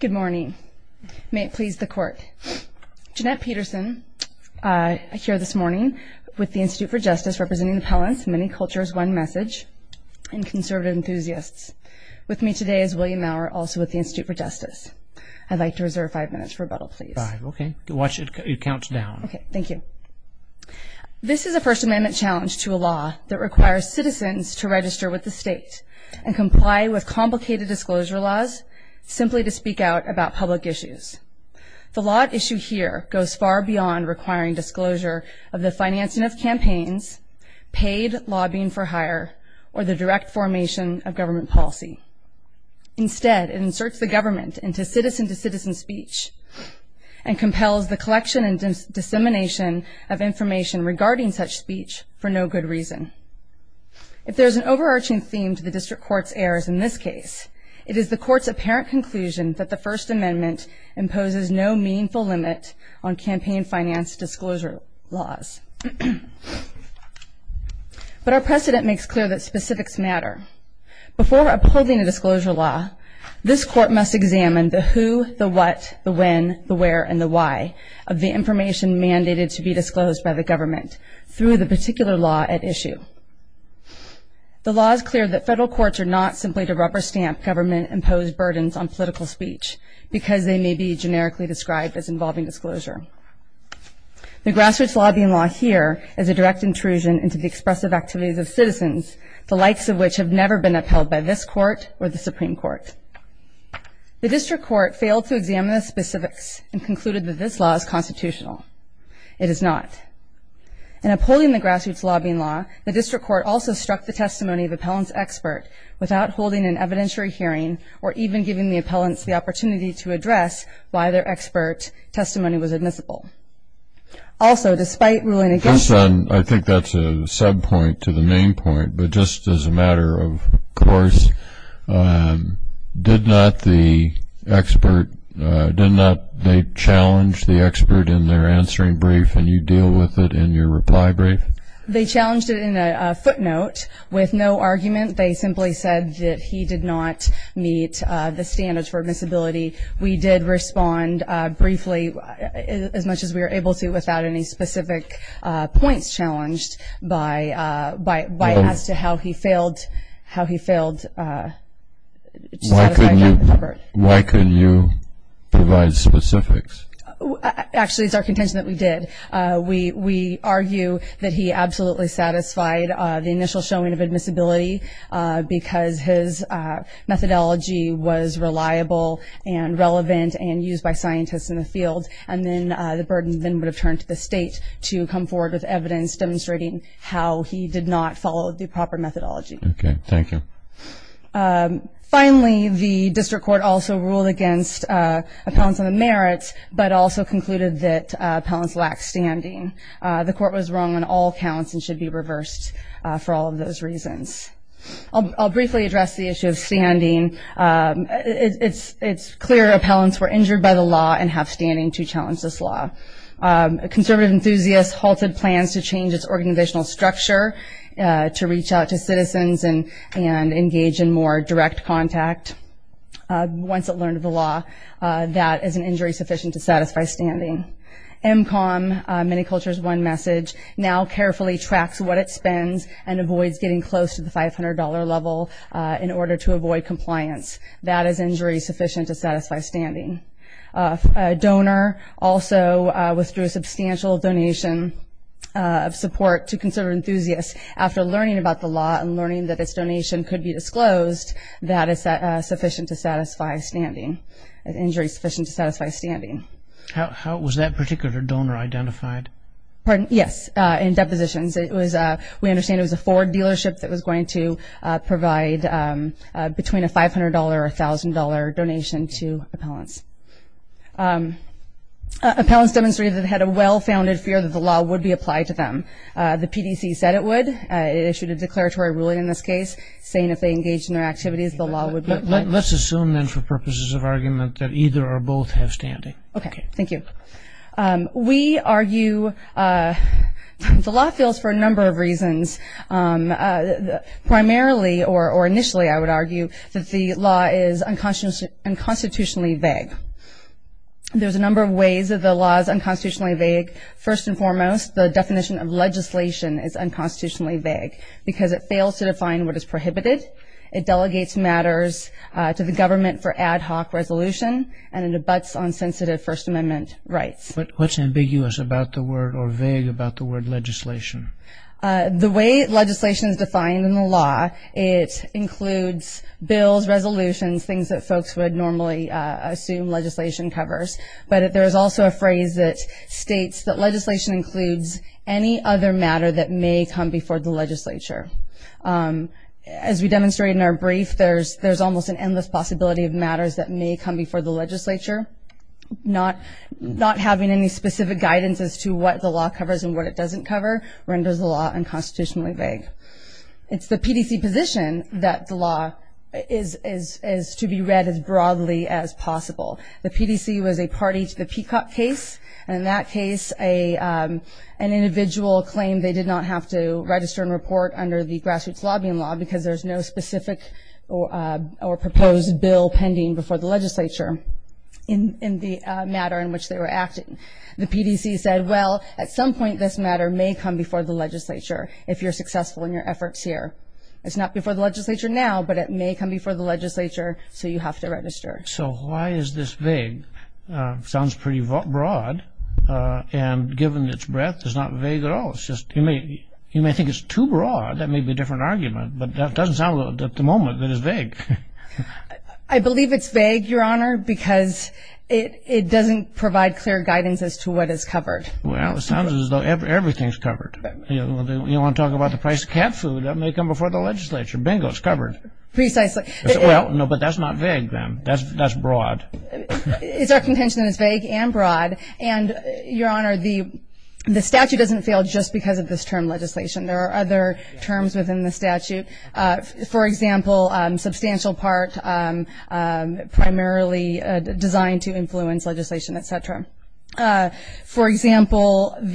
Good morning. May it please the Court. Jeanette Peterson here this morning with the Institute for Justice, representing the Pellants, Many Cultures, One Message, and conservative enthusiasts. With me today is William Maurer, also with the Institute for Justice. I'd like to reserve five minutes for rebuttal, please. Five, okay. Watch it. It counts down. Okay. Thank you. This is a First Amendment challenge to a law that requires citizens to register with the state and comply with complicated disclosure laws simply to speak out about public issues. The law at issue here goes far beyond requiring disclosure of the financing of campaigns, paid lobbying for hire, or the direct formation of government policy. Instead, it inserts the government into citizen-to-citizen speech and compels the collection and dissemination of information regarding such speech for no good reason. If there's an overarching theme to the district court's errors in this case, it is the court's apparent conclusion that the First Amendment imposes no meaningful limit on campaign finance disclosure laws. But our precedent makes clear that specifics matter. Before upholding a disclosure law, this court must examine the who, the what, the when, the where, and the why of the information mandated to be disclosed by the government through the particular law at issue. The law is clear that federal courts are not simply to rubber stamp government-imposed burdens on political speech because they may be generically described as involving disclosure. The grassroots lobbying law here is a direct intrusion into the expressive activities of citizens, the likes of which have never been upheld by this court or the Supreme Court. The district court failed to examine the specifics and concluded that this law is constitutional. It is not. In upholding the grassroots lobbying law, the district court also struck the testimony of appellants' expert without holding an evidentiary hearing or even giving the appellants the opportunity to address why their expert testimony was admissible. Also, despite ruling against them... Did not the expert, did not they challenge the expert in their answering brief and you deal with it in your reply brief? They challenged it in a footnote with no argument. They simply said that he did not meet the standards for admissibility. We did respond briefly, as much as we were able to, without any specific points challenged as to how he failed. Why couldn't you provide specifics? Actually, it's our contention that we did. We argue that he absolutely satisfied the initial showing of admissibility because his methodology was reliable and relevant and used by scientists in the field, and then the burden would have turned to the state to come forward with evidence demonstrating how he did not follow the proper methodology. Okay, thank you. Finally, the district court also ruled against appellants on the merits but also concluded that appellants lacked standing. The court was wrong on all counts and should be reversed for all of those reasons. I'll briefly address the issue of standing. It's clear appellants were injured by the law and have standing to challenge this law. Conservative enthusiasts halted plans to change its organizational structure to reach out to citizens and engage in more direct contact. Once it learned of the law, that is an injury sufficient to satisfy standing. MCOM, Many Cultures, One Message, now carefully tracks what it spends and avoids getting close to the $500 level in order to avoid compliance. That is injury sufficient to satisfy standing. A donor also withdrew a substantial donation of support to conservative enthusiasts. After learning about the law and learning that its donation could be disclosed, that is sufficient to satisfy standing, an injury sufficient to satisfy standing. How was that particular donor identified? Yes, in depositions. We understand it was a Ford dealership that was going to provide between a $500 or $1,000 donation to appellants. Appellants demonstrated that they had a well-founded fear that the law would be applied to them. The PDC said it would. It issued a declaratory ruling in this case saying if they engaged in their activities, the law would be applied. Let's assume then for purposes of argument that either or both have standing. Okay, thank you. We argue the law fails for a number of reasons. Primarily or initially I would argue that the law is unconstitutionally vague. There's a number of ways that the law is unconstitutionally vague. First and foremost, the definition of legislation is unconstitutionally vague because it fails to define what is prohibited. It delegates matters to the government for ad hoc resolution and it abuts on sensitive First Amendment rights. What's ambiguous about the word or vague about the word legislation? The way legislation is defined in the law, it includes bills, resolutions, things that folks would normally assume legislation covers. But there is also a phrase that states that legislation includes any other matter that may come before the legislature. As we demonstrated in our brief, there's almost an endless possibility of matters that may come before the legislature. Not having any specific guidance as to what the law covers and what it doesn't cover renders the law unconstitutionally vague. It's the PDC position that the law is to be read as broadly as possible. The PDC was a party to the Peacock case, and in that case an individual claimed they did not have to register and report under the grassroots lobbying law because there's no specific or proposed bill pending before the legislature in the matter in which they were acting. The PDC said, well, at some point this matter may come before the legislature if you're successful in your efforts here. It's not before the legislature now, but it may come before the legislature, so you have to register. So why is this vague? It sounds pretty broad, and given its breadth, it's not vague at all. You may think it's too broad. That may be a different argument, but that doesn't sound at the moment that it's vague. I believe it's vague, Your Honor, because it doesn't provide clear guidance as to what is covered. Well, it sounds as though everything is covered. You want to talk about the price of cat food, that may come before the legislature. Bingo, it's covered. Precisely. Well, no, but that's not vague then. That's broad. It's our contention that it's vague and broad, and, Your Honor, the statute doesn't fail just because of this term legislation. There are other terms within the statute. For example, substantial part primarily designed to influence legislation, et cetera. For example, in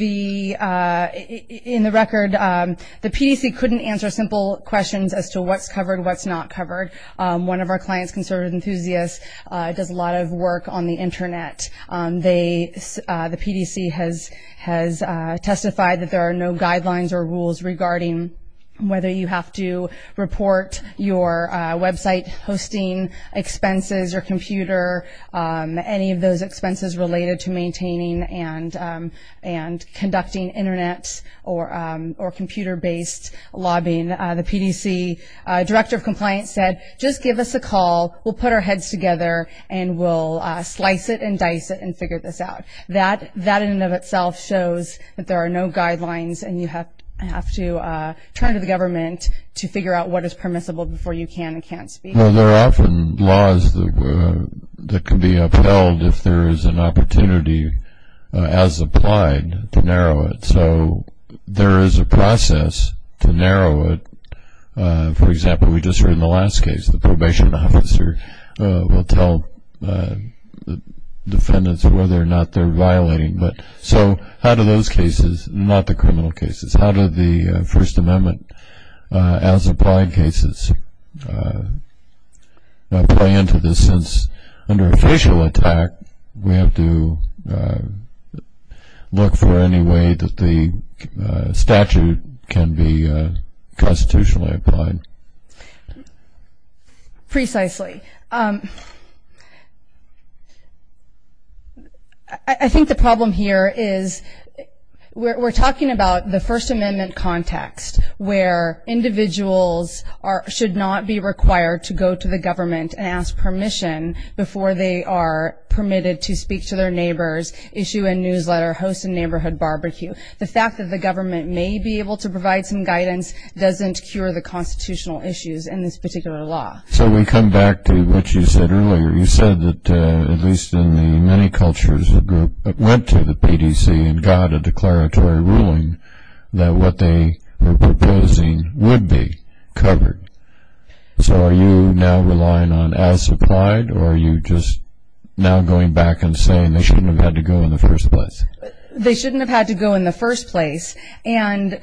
the record, the PDC couldn't answer simple questions as to what's covered, what's not covered. One of our clients, conservative enthusiasts, does a lot of work on the Internet. The PDC has testified that there are no guidelines or rules regarding whether you have to report your website hosting expenses or computer, any of those expenses related to maintaining and conducting Internet or computer-based lobbying. The PDC director of compliance said, just give us a call, we'll put our heads together, and we'll slice it and dice it and figure this out. That in and of itself shows that there are no guidelines, and you have to turn to the government to figure out what is permissible before you can and can't speak. Well, there are often laws that can be upheld if there is an opportunity as applied to narrow it. So there is a process to narrow it. For example, we just heard in the last case, the probation officer will tell the defendants whether or not they're violating. So how do those cases, not the criminal cases, how do the First Amendment as applied cases play into this? Under a facial attack, we have to look for any way that the statute can be constitutionally applied. Precisely. I think the problem here is we're talking about the First Amendment context where individuals should not be required to go to the government and ask permission before they are permitted to speak to their neighbors, issue a newsletter, host a neighborhood barbecue. The fact that the government may be able to provide some guidance doesn't cure the constitutional issues in this particular law. So we come back to what you said earlier. You said that at least in the many cultures that went to the PDC and got a declaratory ruling that what they were proposing would be covered. So are you now relying on as applied, or are you just now going back and saying they shouldn't have had to go in the first place? They shouldn't have had to go in the first place. And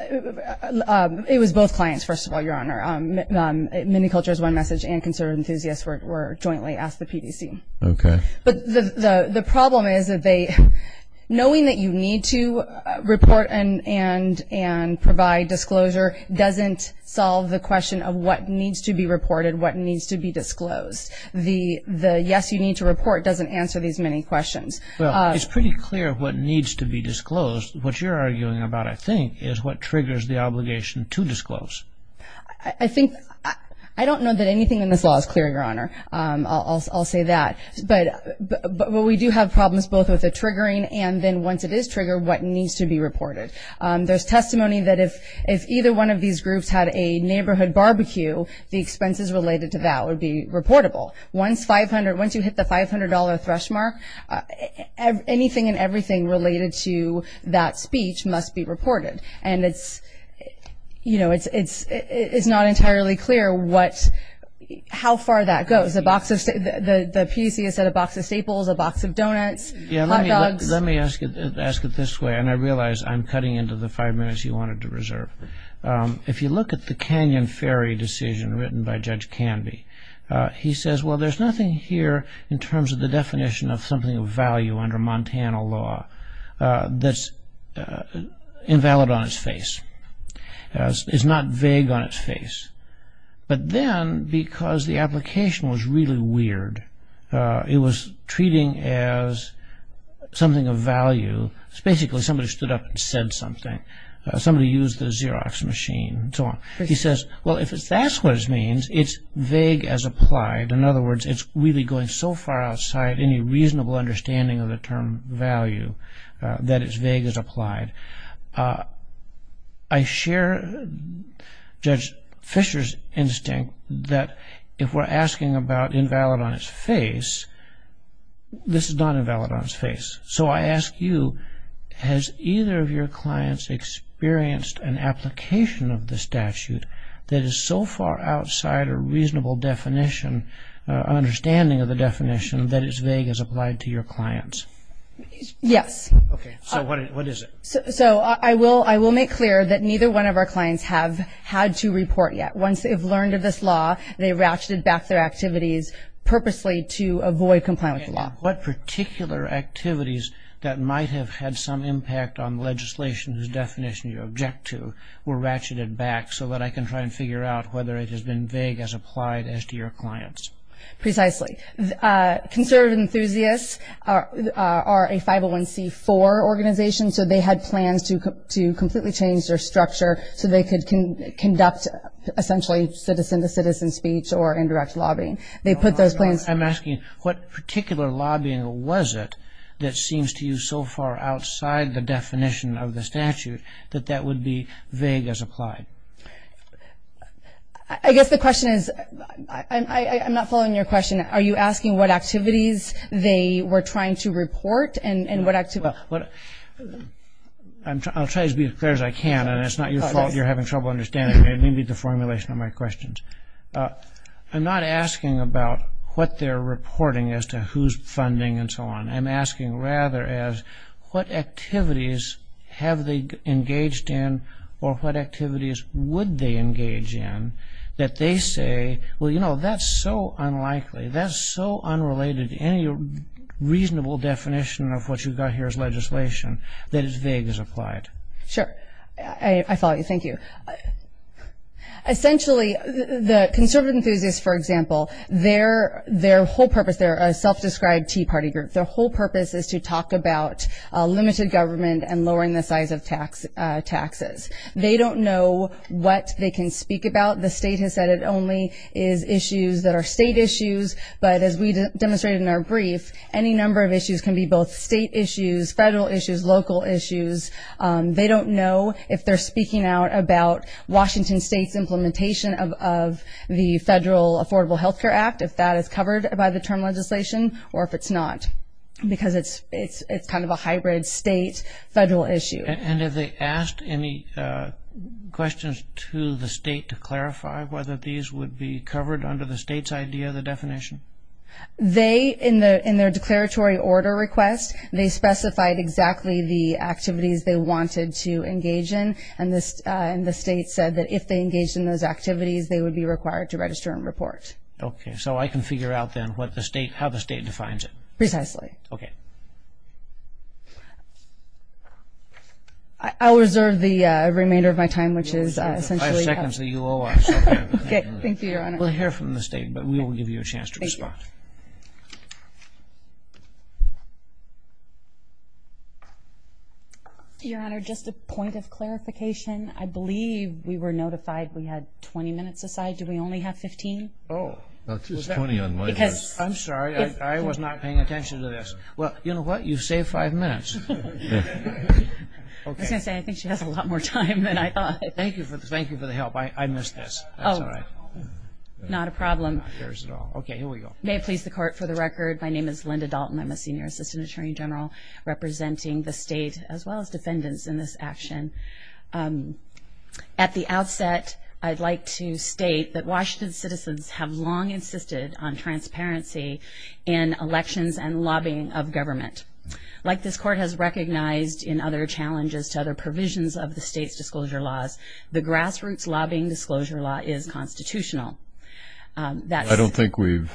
it was both clients, first of all, Your Honor. Many cultures, One Message and conservative enthusiasts were jointly asked the PDC. Okay. But the problem is that knowing that you need to report and provide disclosure doesn't solve the question of what needs to be reported, what needs to be disclosed. The yes, you need to report doesn't answer these many questions. Well, it's pretty clear what needs to be disclosed. What you're arguing about, I think, is what triggers the obligation to disclose. I don't know that anything in this law is clear, Your Honor. I'll say that. But we do have problems both with the triggering and then once it is triggered, what needs to be reported. There's testimony that if either one of these groups had a neighborhood barbecue, the expenses related to that would be reportable. Once you hit the $500 threshold mark, anything and everything related to that speech must be reported. And it's not entirely clear how far that goes. The PDC has said a box of staples, a box of donuts, hot dogs. Let me ask it this way, and I realize I'm cutting into the five minutes you wanted to reserve. If you look at the Canyon Ferry decision written by Judge Canby, he says, well, there's nothing here in terms of the definition of something of value under Montana law that's invalid on its face. It's not vague on its face. But then, because the application was really weird, it was treating as something of value. It's basically somebody stood up and said something. Somebody used the Xerox machine and so on. He says, well, if that's what it means, it's vague as applied. In other words, it's really going so far outside any reasonable understanding of the term value that it's vague as applied. I share Judge Fisher's instinct that if we're asking about invalid on its face, this is not invalid on its face. So I ask you, has either of your clients experienced an application of the statute that is so far outside a reasonable definition, understanding of the definition, that it's vague as applied to your clients? Yes. Okay. So what is it? So I will make clear that neither one of our clients have had to report yet. Once they've learned of this law, they ratcheted back their activities purposely to avoid complying with the law. And what particular activities that might have had some impact on legislation whose definition you object to were ratcheted back so that I can try and figure out whether it has been vague as applied as to your clients? Precisely. Conservative Enthusiasts are a 501C4 organization, so they had plans to completely change their structure so they could conduct essentially citizen-to-citizen speech or indirect lobbying. I'm asking, what particular lobbying was it that seems to you so far outside the definition of the statute that that would be vague as applied? I guess the question is, I'm not following your question. Are you asking what activities they were trying to report and what activities? I'll try to be as clear as I can, and it's not your fault you're having trouble understanding me. It may be the formulation of my questions. I'm not asking about what they're reporting as to who's funding and so on. I'm asking rather as what activities have they engaged in or what activities would they engage in that they say, well, you know, that's so unlikely. That's so unrelated to any reasonable definition of what you've got here as legislation that it's vague as applied. Sure. I follow you. Thank you. Essentially, the Conservative Enthusiasts, for example, their whole purpose, they're a self-described Tea Party group. Their whole purpose is to talk about limited government and lowering the size of taxes. They don't know what they can speak about. The state has said it only is issues that are state issues, but as we demonstrated in our brief, any number of issues can be both state issues, federal issues, local issues. They don't know if they're speaking out about Washington State's implementation of the Federal Affordable Health Care Act, if that is covered by the term legislation or if it's not, because it's kind of a hybrid state-federal issue. And have they asked any questions to the state to clarify whether these would be covered under the state's idea of the definition? They, in their declaratory order request, they specified exactly the activities they wanted to engage in, and the state said that if they engaged in those activities, they would be required to register and report. Okay. So I can figure out then how the state defines it. Precisely. Okay. I'll reserve the remainder of my time, which is essentially up to you. Five seconds that you owe us. Thank you, Your Honor. We'll hear from the state, but we will give you a chance to respond. Thank you. Your Honor, just a point of clarification. I believe we were notified we had 20 minutes aside. Do we only have 15? Oh. That's 20 on my part. I'm sorry. I was not paying attention to this. Well, you know what? You saved five minutes. I was going to say, I think she has a lot more time than I thought. Thank you for the help. I missed this. That's all right. Not a problem. Okay. Here we go. May it please the Court, for the record, my name is Linda Dalton. I'm a senior assistant attorney general representing the state, as well as defendants in this action. At the outset, I'd like to state that Washington citizens have long insisted on transparency in elections and lobbying of government. Like this Court has recognized in other challenges to other provisions of the state's disclosure laws, the grassroots lobbying disclosure law is constitutional. I don't think we've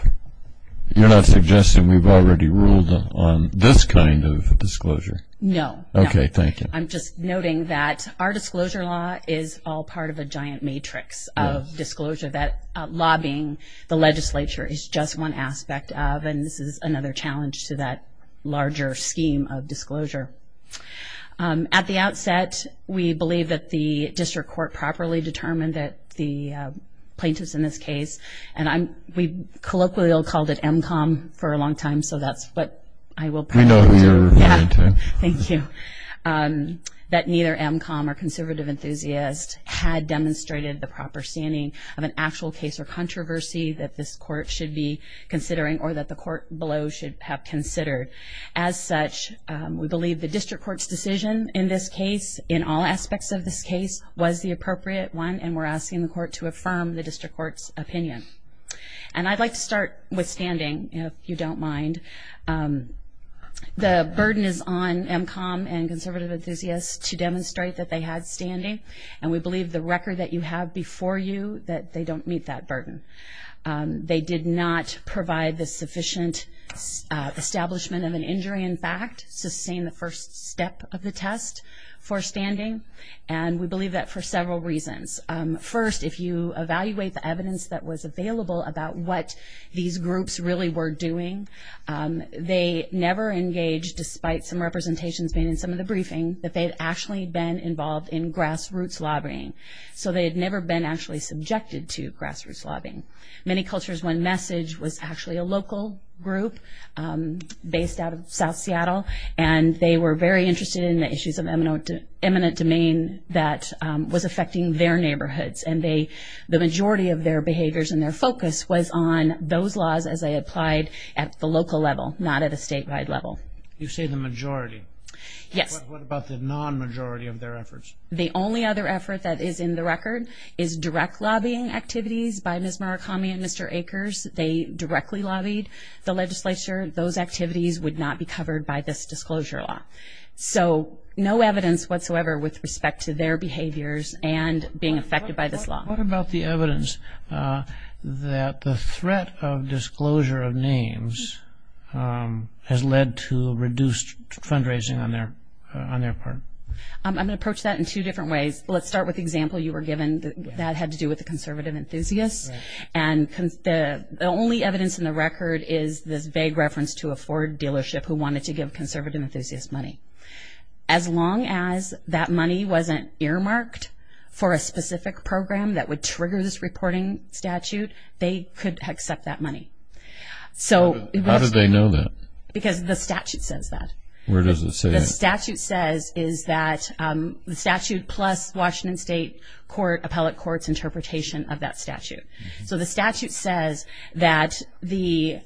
– you're not suggesting we've already ruled on this kind of disclosure? No. Okay. Thank you. I'm just noting that our disclosure law is all part of a giant matrix of disclosure, that lobbying the legislature is just one aspect of, and this is another challenge to that larger scheme of disclosure. At the outset, we believe that the district court properly determined that the plaintiffs in this case, and we colloquially called it MCOM for a long time, so that's what I will – We know who you're referring to. Thank you. That neither MCOM or conservative enthusiast had demonstrated the proper standing of an actual case or controversy that this court should be considering or that the court below should have considered. As such, we believe the district court's decision in this case, in all aspects of this case, was the appropriate one, and we're asking the court to affirm the district court's opinion. And I'd like to start with standing, if you don't mind. The burden is on MCOM and conservative enthusiasts to demonstrate that they had standing, and we believe the record that you have before you, that they don't meet that burden. They did not provide the sufficient establishment of an injury in fact, sustain the first step of the test for standing, and we believe that for several reasons. First, if you evaluate the evidence that was available about what these groups really were doing, they never engaged, despite some representations being in some of the briefing, that they had actually been involved in grassroots lobbying. So they had never been actually subjected to grassroots lobbying. Many Cultures One Message was actually a local group based out of South Seattle, and they were very interested in the issues of eminent domain that was affecting their neighborhoods, and the majority of their behaviors and their focus was on those laws as they applied at the local level, not at a statewide level. You say the majority. Yes. What about the non-majority of their efforts? The only other effort that is in the record is direct lobbying activities by Ms. Murakami and Mr. Akers. They directly lobbied the legislature. Those activities would not be covered by this disclosure law. So no evidence whatsoever with respect to their behaviors and being affected by this law. What about the evidence that the threat of disclosure of names has led to reduced fundraising on their part? I'm going to approach that in two different ways. Let's start with the example you were given. That had to do with the conservative enthusiasts, and the only evidence in the record is this vague reference to a Ford dealership who wanted to give conservative enthusiasts money. As long as that money wasn't earmarked for a specific program that would trigger this reporting statute, they could accept that money. How did they know that? Because the statute says that. Where does it say that? The statute says is that the statute plus Washington State Appellate Court's interpretation of that statute. So the statute says that the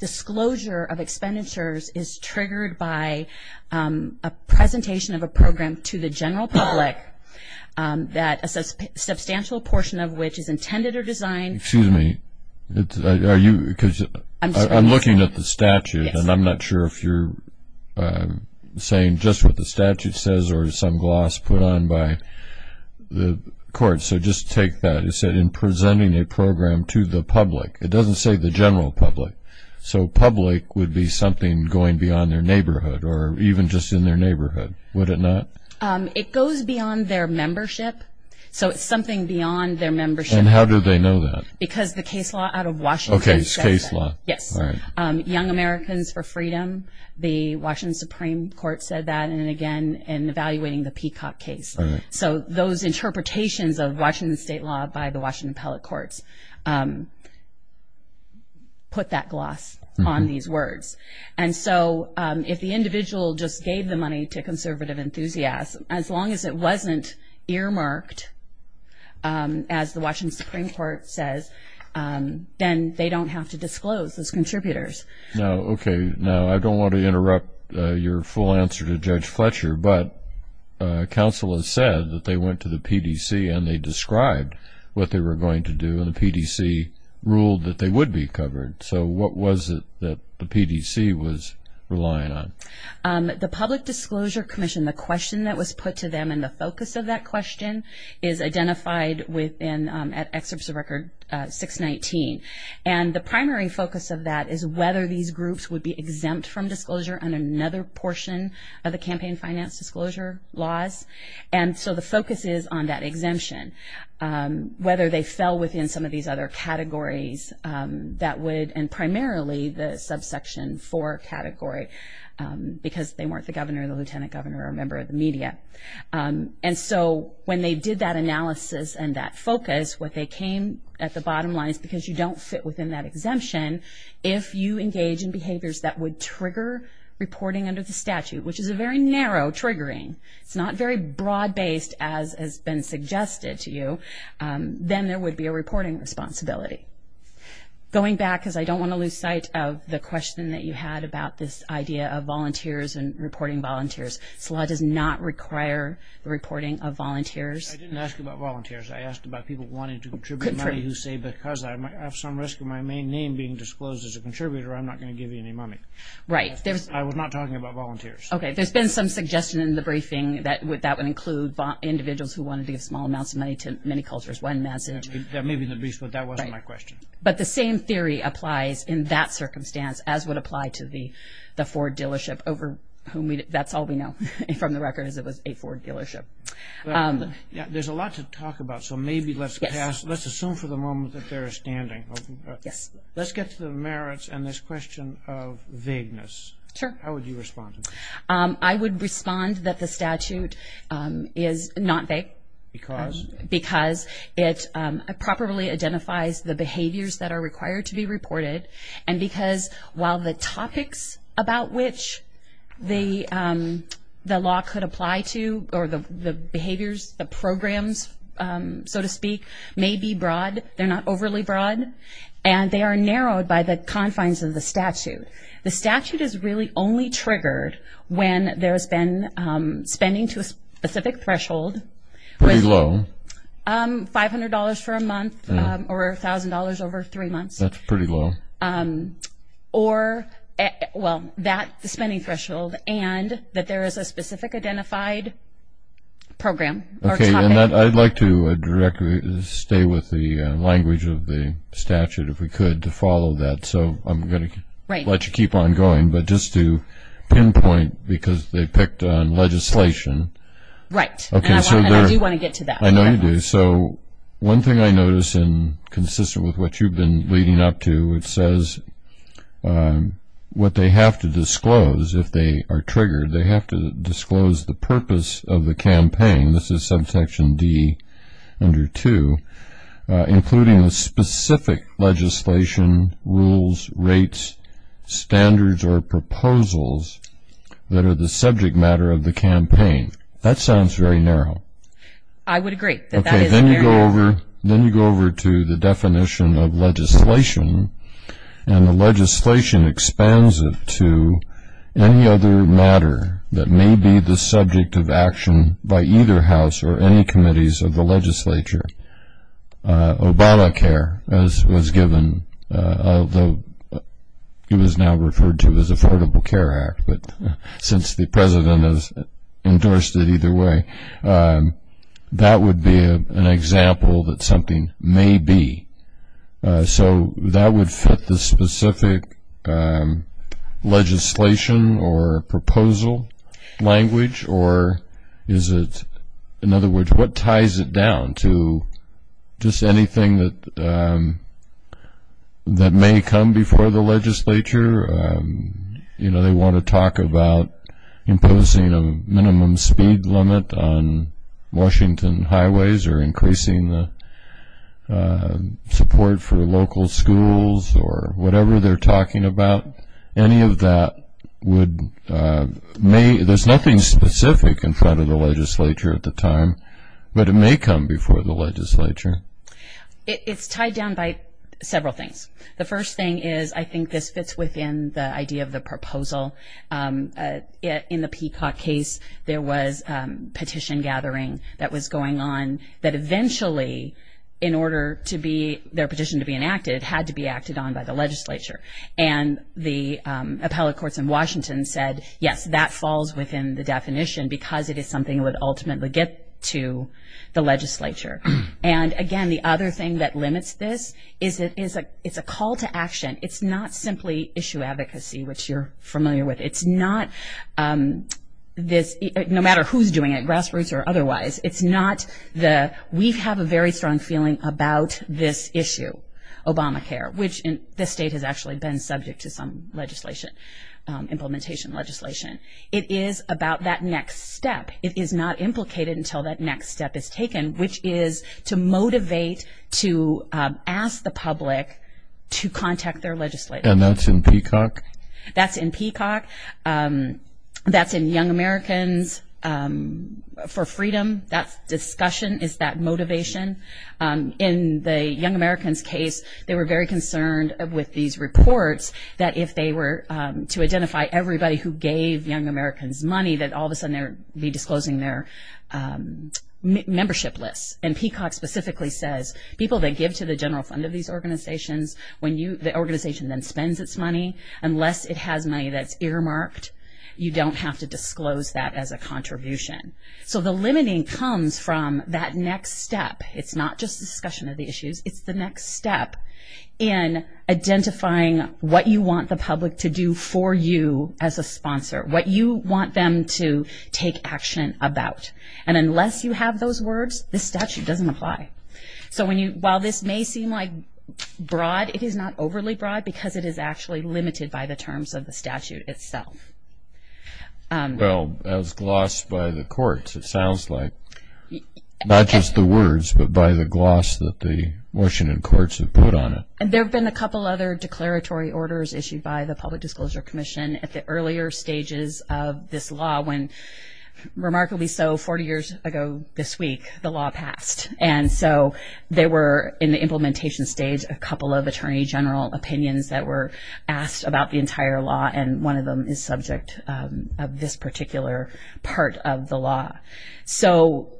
disclosure of expenditures is triggered by a presentation of a program to the general public, a substantial portion of which is intended or designed. Excuse me. I'm looking at the statute, and I'm not sure if you're saying just what the statute says or some gloss put on by the court. So just take that. It says in presenting a program to the public. It doesn't say the general public. So public would be something going beyond their neighborhood or even just in their neighborhood. Would it not? It goes beyond their membership. So it's something beyond their membership. And how do they know that? Because the case law out of Washington says that. Okay, it's case law. Yes. Young Americans for Freedom, the Washington Supreme Court said that, and again, in evaluating the Peacock case. So those interpretations of Washington State law by the Washington Appellate Courts put that gloss on these words. And so if the individual just gave the money to conservative enthusiasm, as long as it wasn't earmarked, as the Washington Supreme Court says, then they don't have to disclose those contributors. Now, okay, now I don't want to interrupt your full answer to Judge Fletcher, but counsel has said that they went to the PDC and they described what they were going to do and the PDC ruled that they would be covered. So what was it that the PDC was relying on? The Public Disclosure Commission, the question that was put to them and the focus of that question is identified at Excerpts of Record 619. And the primary focus of that is whether these groups would be exempt from disclosure on another portion of the campaign finance disclosure laws. And so the focus is on that exemption, whether they fell within some of these other categories that would, and primarily the Subsection 4 category because they weren't the governor, the lieutenant governor, or a member of the media. And so when they did that analysis and that focus, what they came at the bottom line is because you don't fit within that exemption, if you engage in behaviors that would trigger reporting under the statute, which is a very narrow triggering, it's not very broad-based as has been suggested to you, then there would be a reporting responsibility. Going back, because I don't want to lose sight of the question that you had about this idea of volunteers and reporting volunteers. This law does not require the reporting of volunteers. I didn't ask about volunteers. I asked about people wanting to contribute money who say, because I have some risk of my main name being disclosed as a contributor, I'm not going to give you any money. Right. I was not talking about volunteers. Okay. There's been some suggestion in the briefing that that would include individuals who wanted to give small amounts of money to many cultures, one message. That may be in the briefs, but that wasn't my question. But the same theory applies in that circumstance, as would apply to the Ford dealership, over whom that's all we know from the record is it was a Ford dealership. There's a lot to talk about, so maybe let's assume for the moment that they're standing. Yes. Let's get to the merits and this question of vagueness. Sure. How would you respond? I would respond that the statute is not vague. Because? Because it properly identifies the behaviors that are required to be reported, and because while the topics about which the law could apply to, or the behaviors, the programs, so to speak, may be broad, they're not overly broad, and they are narrowed by the confines of the statute. The statute is really only triggered when there's been spending to a specific threshold. Pretty low. $500 for a month or $1,000 over three months. That's pretty low. Or, well, that spending threshold and that there is a specific identified program or topic. Okay. And I'd like to stay with the language of the statute, if we could, to follow that. So I'm going to let you keep on going. But just to pinpoint, because they picked on legislation. Right. And I do want to get to that. I know you do. So one thing I notice, consistent with what you've been leading up to, it says what they have to disclose if they are triggered, they have to disclose the purpose of the campaign. This is subsection D under 2. Including the specific legislation, rules, rates, standards, or proposals that are the subject matter of the campaign. That sounds very narrow. I would agree that that is narrow. Okay. Then you go over to the definition of legislation, and the legislation expands it to any other matter that may be the subject of action by either House or any committees of the legislature. Obamacare, as was given, although it was now referred to as Affordable Care Act, but since the president has endorsed it either way, that would be an example that something may be. So that would fit the specific legislation or proposal language, or is it, in other words, what ties it down to just anything that may come before the legislature? You know, they want to talk about imposing a minimum speed limit on Washington highways or increasing the support for local schools or whatever they're talking about. Any of that would, there's nothing specific in front of the legislature at the time, but it may come before the legislature. It's tied down by several things. The first thing is I think this fits within the idea of the proposal. In the Peacock case, there was petition gathering that was going on that eventually, in order for their petition to be enacted, it had to be acted on by the legislature. And the appellate courts in Washington said, yes, that falls within the definition because it is something that would ultimately get to the legislature. And, again, the other thing that limits this is it's a call to action. It's not simply issue advocacy, which you're familiar with. It's not this, no matter who's doing it, grassroots or otherwise, it's not the we have a very strong feeling about this issue, Obamacare, which the state has actually been subject to some legislation, implementation legislation. It is about that next step. It is not implicated until that next step is taken, which is to motivate, to ask the public to contact their legislature. And that's in Peacock? That's in Peacock. That's in Young Americans for Freedom. That discussion is that motivation. In the Young Americans case, they were very concerned with these reports that if they were to identify everybody who gave Young Americans money that all of a sudden they would be disclosing their membership list. And Peacock specifically says people that give to the general fund of these organizations, when the organization then spends its money, unless it has money that's earmarked, you don't have to disclose that as a contribution. So the limiting comes from that next step. It's not just a discussion of the issues. It's the next step in identifying what you want the public to do for you as a sponsor, what you want them to take action about. And unless you have those words, this statute doesn't apply. So while this may seem like broad, it is not overly broad, because it is actually limited by the terms of the statute itself. Well, as glossed by the courts, it sounds like. Not just the words, but by the gloss that the Washington courts have put on it. There have been a couple other declaratory orders issued by the Public Disclosure Commission at the earlier stages of this law when, remarkably so, 40 years ago this week, the law passed. And so there were, in the implementation stage, a couple of attorney general opinions that were asked about the entire law, and one of them is subject of this particular part of the law. So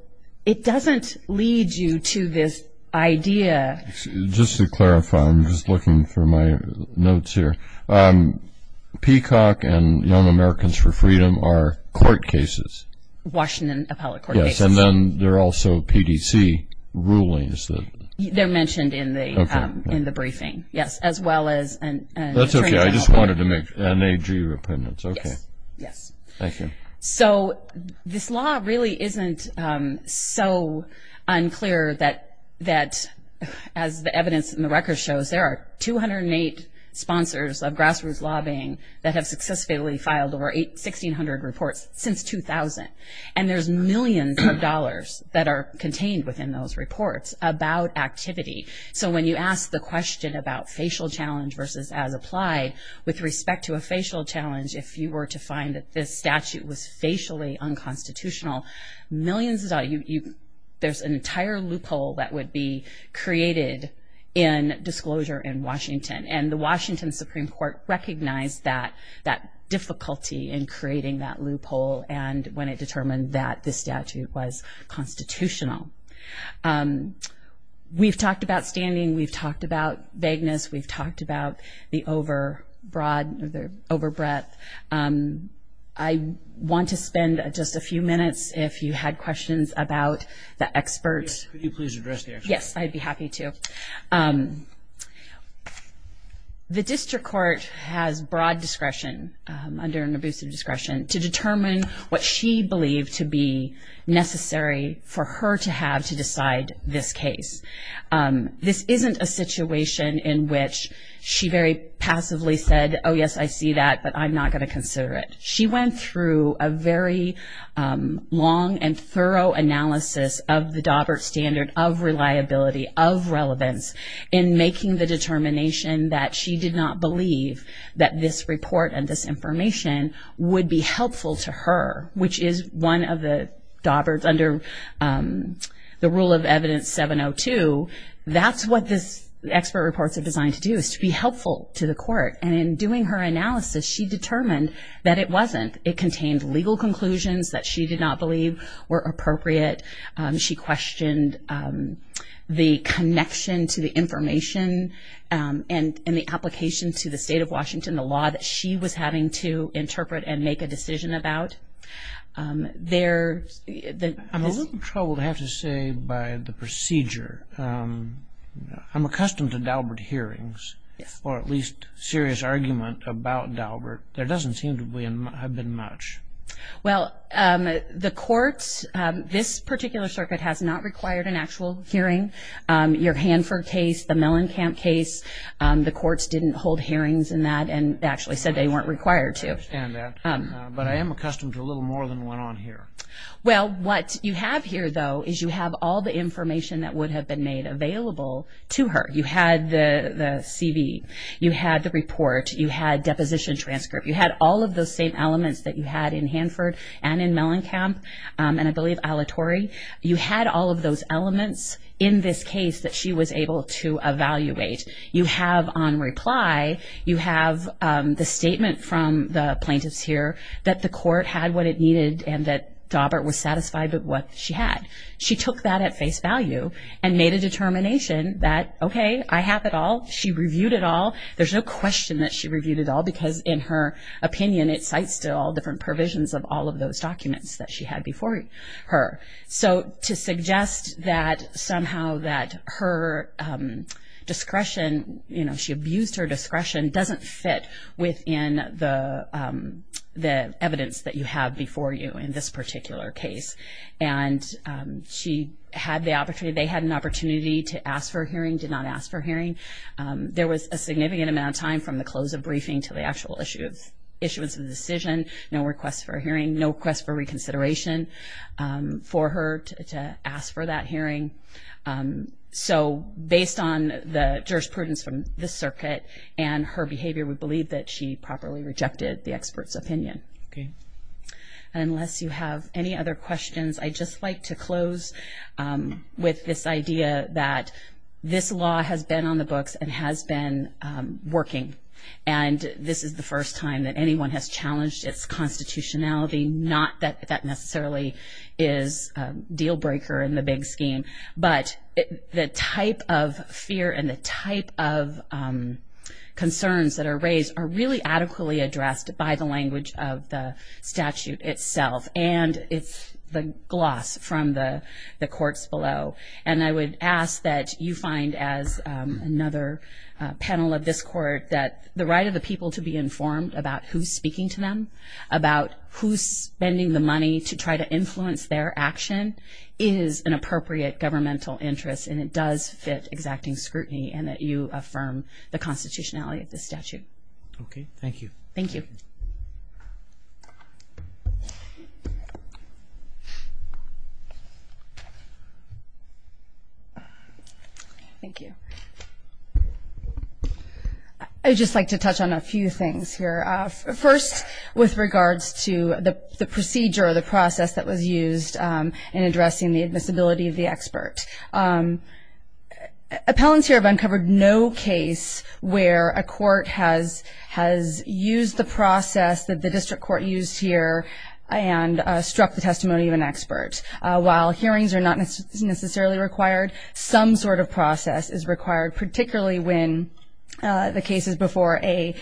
it doesn't lead you to this idea. Just to clarify, I'm just looking for my notes here. Peacock and Young Americans for Freedom are court cases. Washington appellate court cases. Yes, and then they're also PDC rulings. They're mentioned in the briefing. Yes, as well as an attorney general opinion. That's okay. I just wanted to make an AG opinion. It's okay. Yes. Thank you. So this law really isn't so unclear that, as the evidence in the record shows, there are 208 sponsors of grassroots lobbying that have successfully filed over 1,600 reports since 2000. And there's millions of dollars that are contained within those reports about activity. So when you ask the question about facial challenge versus as applied, with respect to a facial challenge, if you were to find that this statute was facially unconstitutional, millions of dollars. There's an entire loophole that would be created in disclosure in Washington. And the Washington Supreme Court recognized that difficulty in creating that loophole when it determined that this statute was constitutional. We've talked about standing. We've talked about vagueness. We've talked about the over breadth. I want to spend just a few minutes, if you had questions about the experts. Could you please address the experts? Yes, I'd be happy to. The district court has broad discretion, under an abusive discretion, to determine what she believed to be necessary for her to have to decide this case. This isn't a situation in which she very passively said, oh, yes, I see that, but I'm not going to consider it. She went through a very long and thorough analysis of the Daubert standard of reliability, of relevance, in making the determination that she did not believe that this report and this information would be helpful to her, which is one of the Dauberts under the rule of evidence 702. That's what the expert reports are designed to do, is to be helpful to the court. And in doing her analysis, she determined that it wasn't. It contained legal conclusions that she did not believe were appropriate. She questioned the connection to the information and the application to the state of Washington, the law that she was having to interpret and make a decision about. I'm a little troubled, I have to say, by the procedure. I'm accustomed to Daubert hearings, or at least serious argument about Daubert. There doesn't seem to have been much. Well, the courts, this particular circuit has not required an actual hearing. Your Hanford case, the Mellencamp case, the courts didn't hold hearings in that and actually said they weren't required to. I understand that, but I am accustomed to a little more than went on here. Well, what you have here, though, is you have all the information that would have been made available to her. You had the CV. You had the report. You had deposition transcript. You had all of those same elements that you had in Hanford and in Mellencamp, and I believe Alatorre. You had all of those elements in this case that she was able to evaluate. You have on reply, you have the statement from the plaintiffs here that the court had what it needed and that Daubert was satisfied with what she had. She took that at face value and made a determination that, okay, I have it all. She reviewed it all. There's no question that she reviewed it all because, in her opinion, it cites to all different provisions of all of those documents that she had before her. So to suggest that somehow that her discretion, you know, she abused her discretion doesn't fit within the evidence that you have before you in this particular case, and she had the opportunity. They had an opportunity to ask for a hearing, did not ask for a hearing. There was a significant amount of time from the close of briefing to the actual issuance of the decision, no request for a hearing, no request for reconsideration for her to ask for that hearing. So based on the jurisprudence from the circuit and her behavior we believe that she properly rejected the expert's opinion. Okay. Unless you have any other questions, I'd just like to close with this idea that this law has been on the books and has been working, and this is the first time that anyone has challenged its constitutionality. Not that that necessarily is a deal breaker in the big scheme, but the type of fear and the type of concerns that are raised are really adequately addressed by the language of the statute itself. And it's the gloss from the courts below. And I would ask that you find, as another panel of this court, that the right of the people to be informed about who's speaking to them, about who's spending the money to try to influence their action, is an appropriate governmental interest, and it does fit exacting scrutiny and that you affirm the constitutionality of the statute. Okay. Thank you. Thank you. I would just like to touch on a few things here. First, with regards to the procedure or the process that was used in addressing the admissibility of the expert. Appellants here have uncovered no case where a court has used the process that the district court used here and struck the testimony of an expert. While hearings are not necessarily required, some sort of process is required, particularly when the case is before a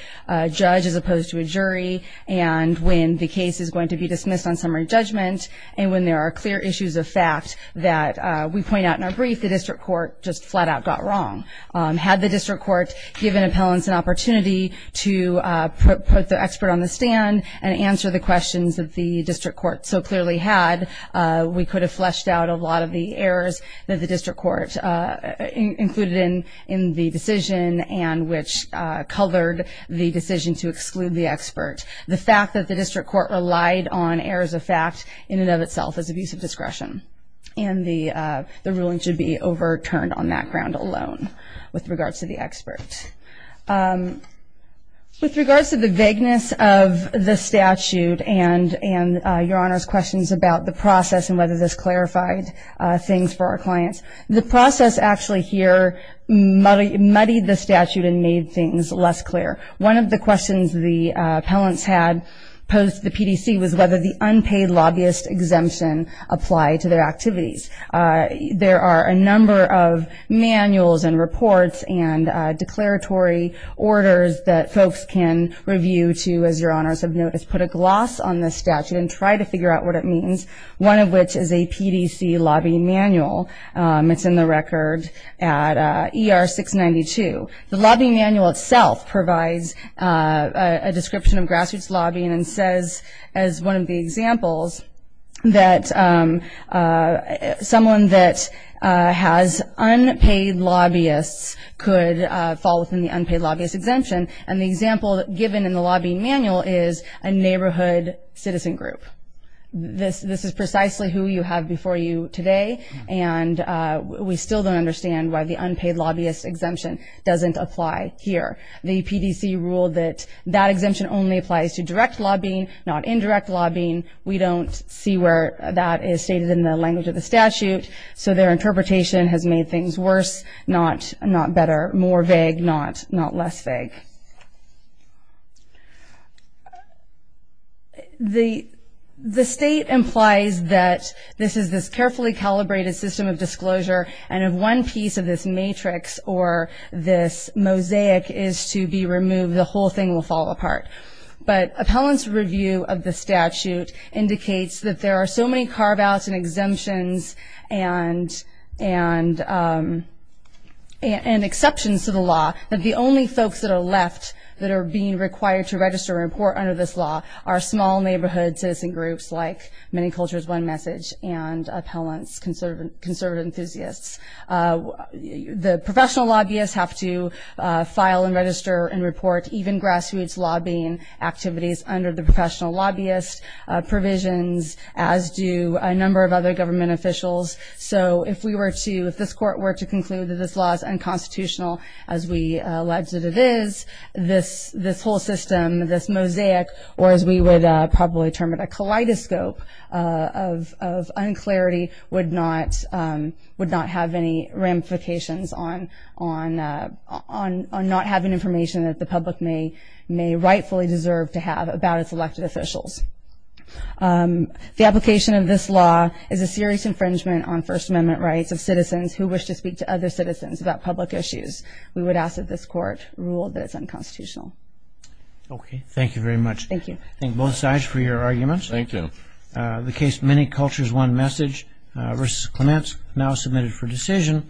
judge as opposed to a jury and when the case is going to be dismissed on summary judgment and when there are clear issues of fact that we point out in our brief, the district court just flat out got wrong. Had the district court given appellants an opportunity to put the expert on the stand and answer the questions that the district court so clearly had, we could have fleshed out a lot of the errors that the district court included in the decision and which colored the decision to exclude the expert. The fact that the district court relied on errors of fact in and of itself is abuse of discretion and the ruling should be overturned on that ground alone with regards to the expert. With regards to the vagueness of the statute and your Honor's questions about the process and whether this clarified things for our clients, the process actually here muddied the statute and made things less clear. One of the questions the appellants had posed to the PDC was whether the unpaid lobbyist exemption applied to their activities. There are a number of manuals and reports and declaratory orders that folks can review to, as your Honors have noticed, put a gloss on this statute and try to figure out what it means, one of which is a PDC lobby manual. It's in the record at ER 692. The lobby manual itself provides a description of grassroots lobbying and says as one of the examples that someone that has unpaid lobbyists could fall within the unpaid lobbyist exemption, and the example given in the lobby manual is a neighborhood citizen group. This is precisely who you have before you today, and we still don't understand why the unpaid lobbyist exemption doesn't apply here. The PDC ruled that that exemption only applies to direct lobbying, not indirect lobbying. We don't see where that is stated in the language of the statute, so their interpretation has made things worse, not better, more vague, not less vague. The state implies that this is this carefully calibrated system of disclosure, and if one piece of this matrix or this mosaic is to be removed, the whole thing will fall apart. But appellants' review of the statute indicates that there are so many carve-outs and exemptions and exceptions to the law that the only folks that are left that are being required to register or report under this law are small neighborhood citizen groups like Many Cultures, One Message and appellants, conservative enthusiasts. The professional lobbyists have to file and register and report even grassroots lobbying activities under the professional lobbyist provisions, as do a number of other government officials. So if we were to, if this court were to conclude that this law is unconstitutional as we allege that it is, this whole system, this mosaic, or as we would probably term it a kaleidoscope of unclarity, would not have any ramifications on not having information that the public may rightfully deserve to have about its elected officials. The application of this law is a serious infringement on First Amendment rights of citizens who wish to speak to other citizens about public issues. We would ask that this court rule that it's unconstitutional. Okay. Thank you very much. Thank you. I thank both sides for your arguments. Thank you. The case Many Cultures, One Message v. Clements now submitted for decision.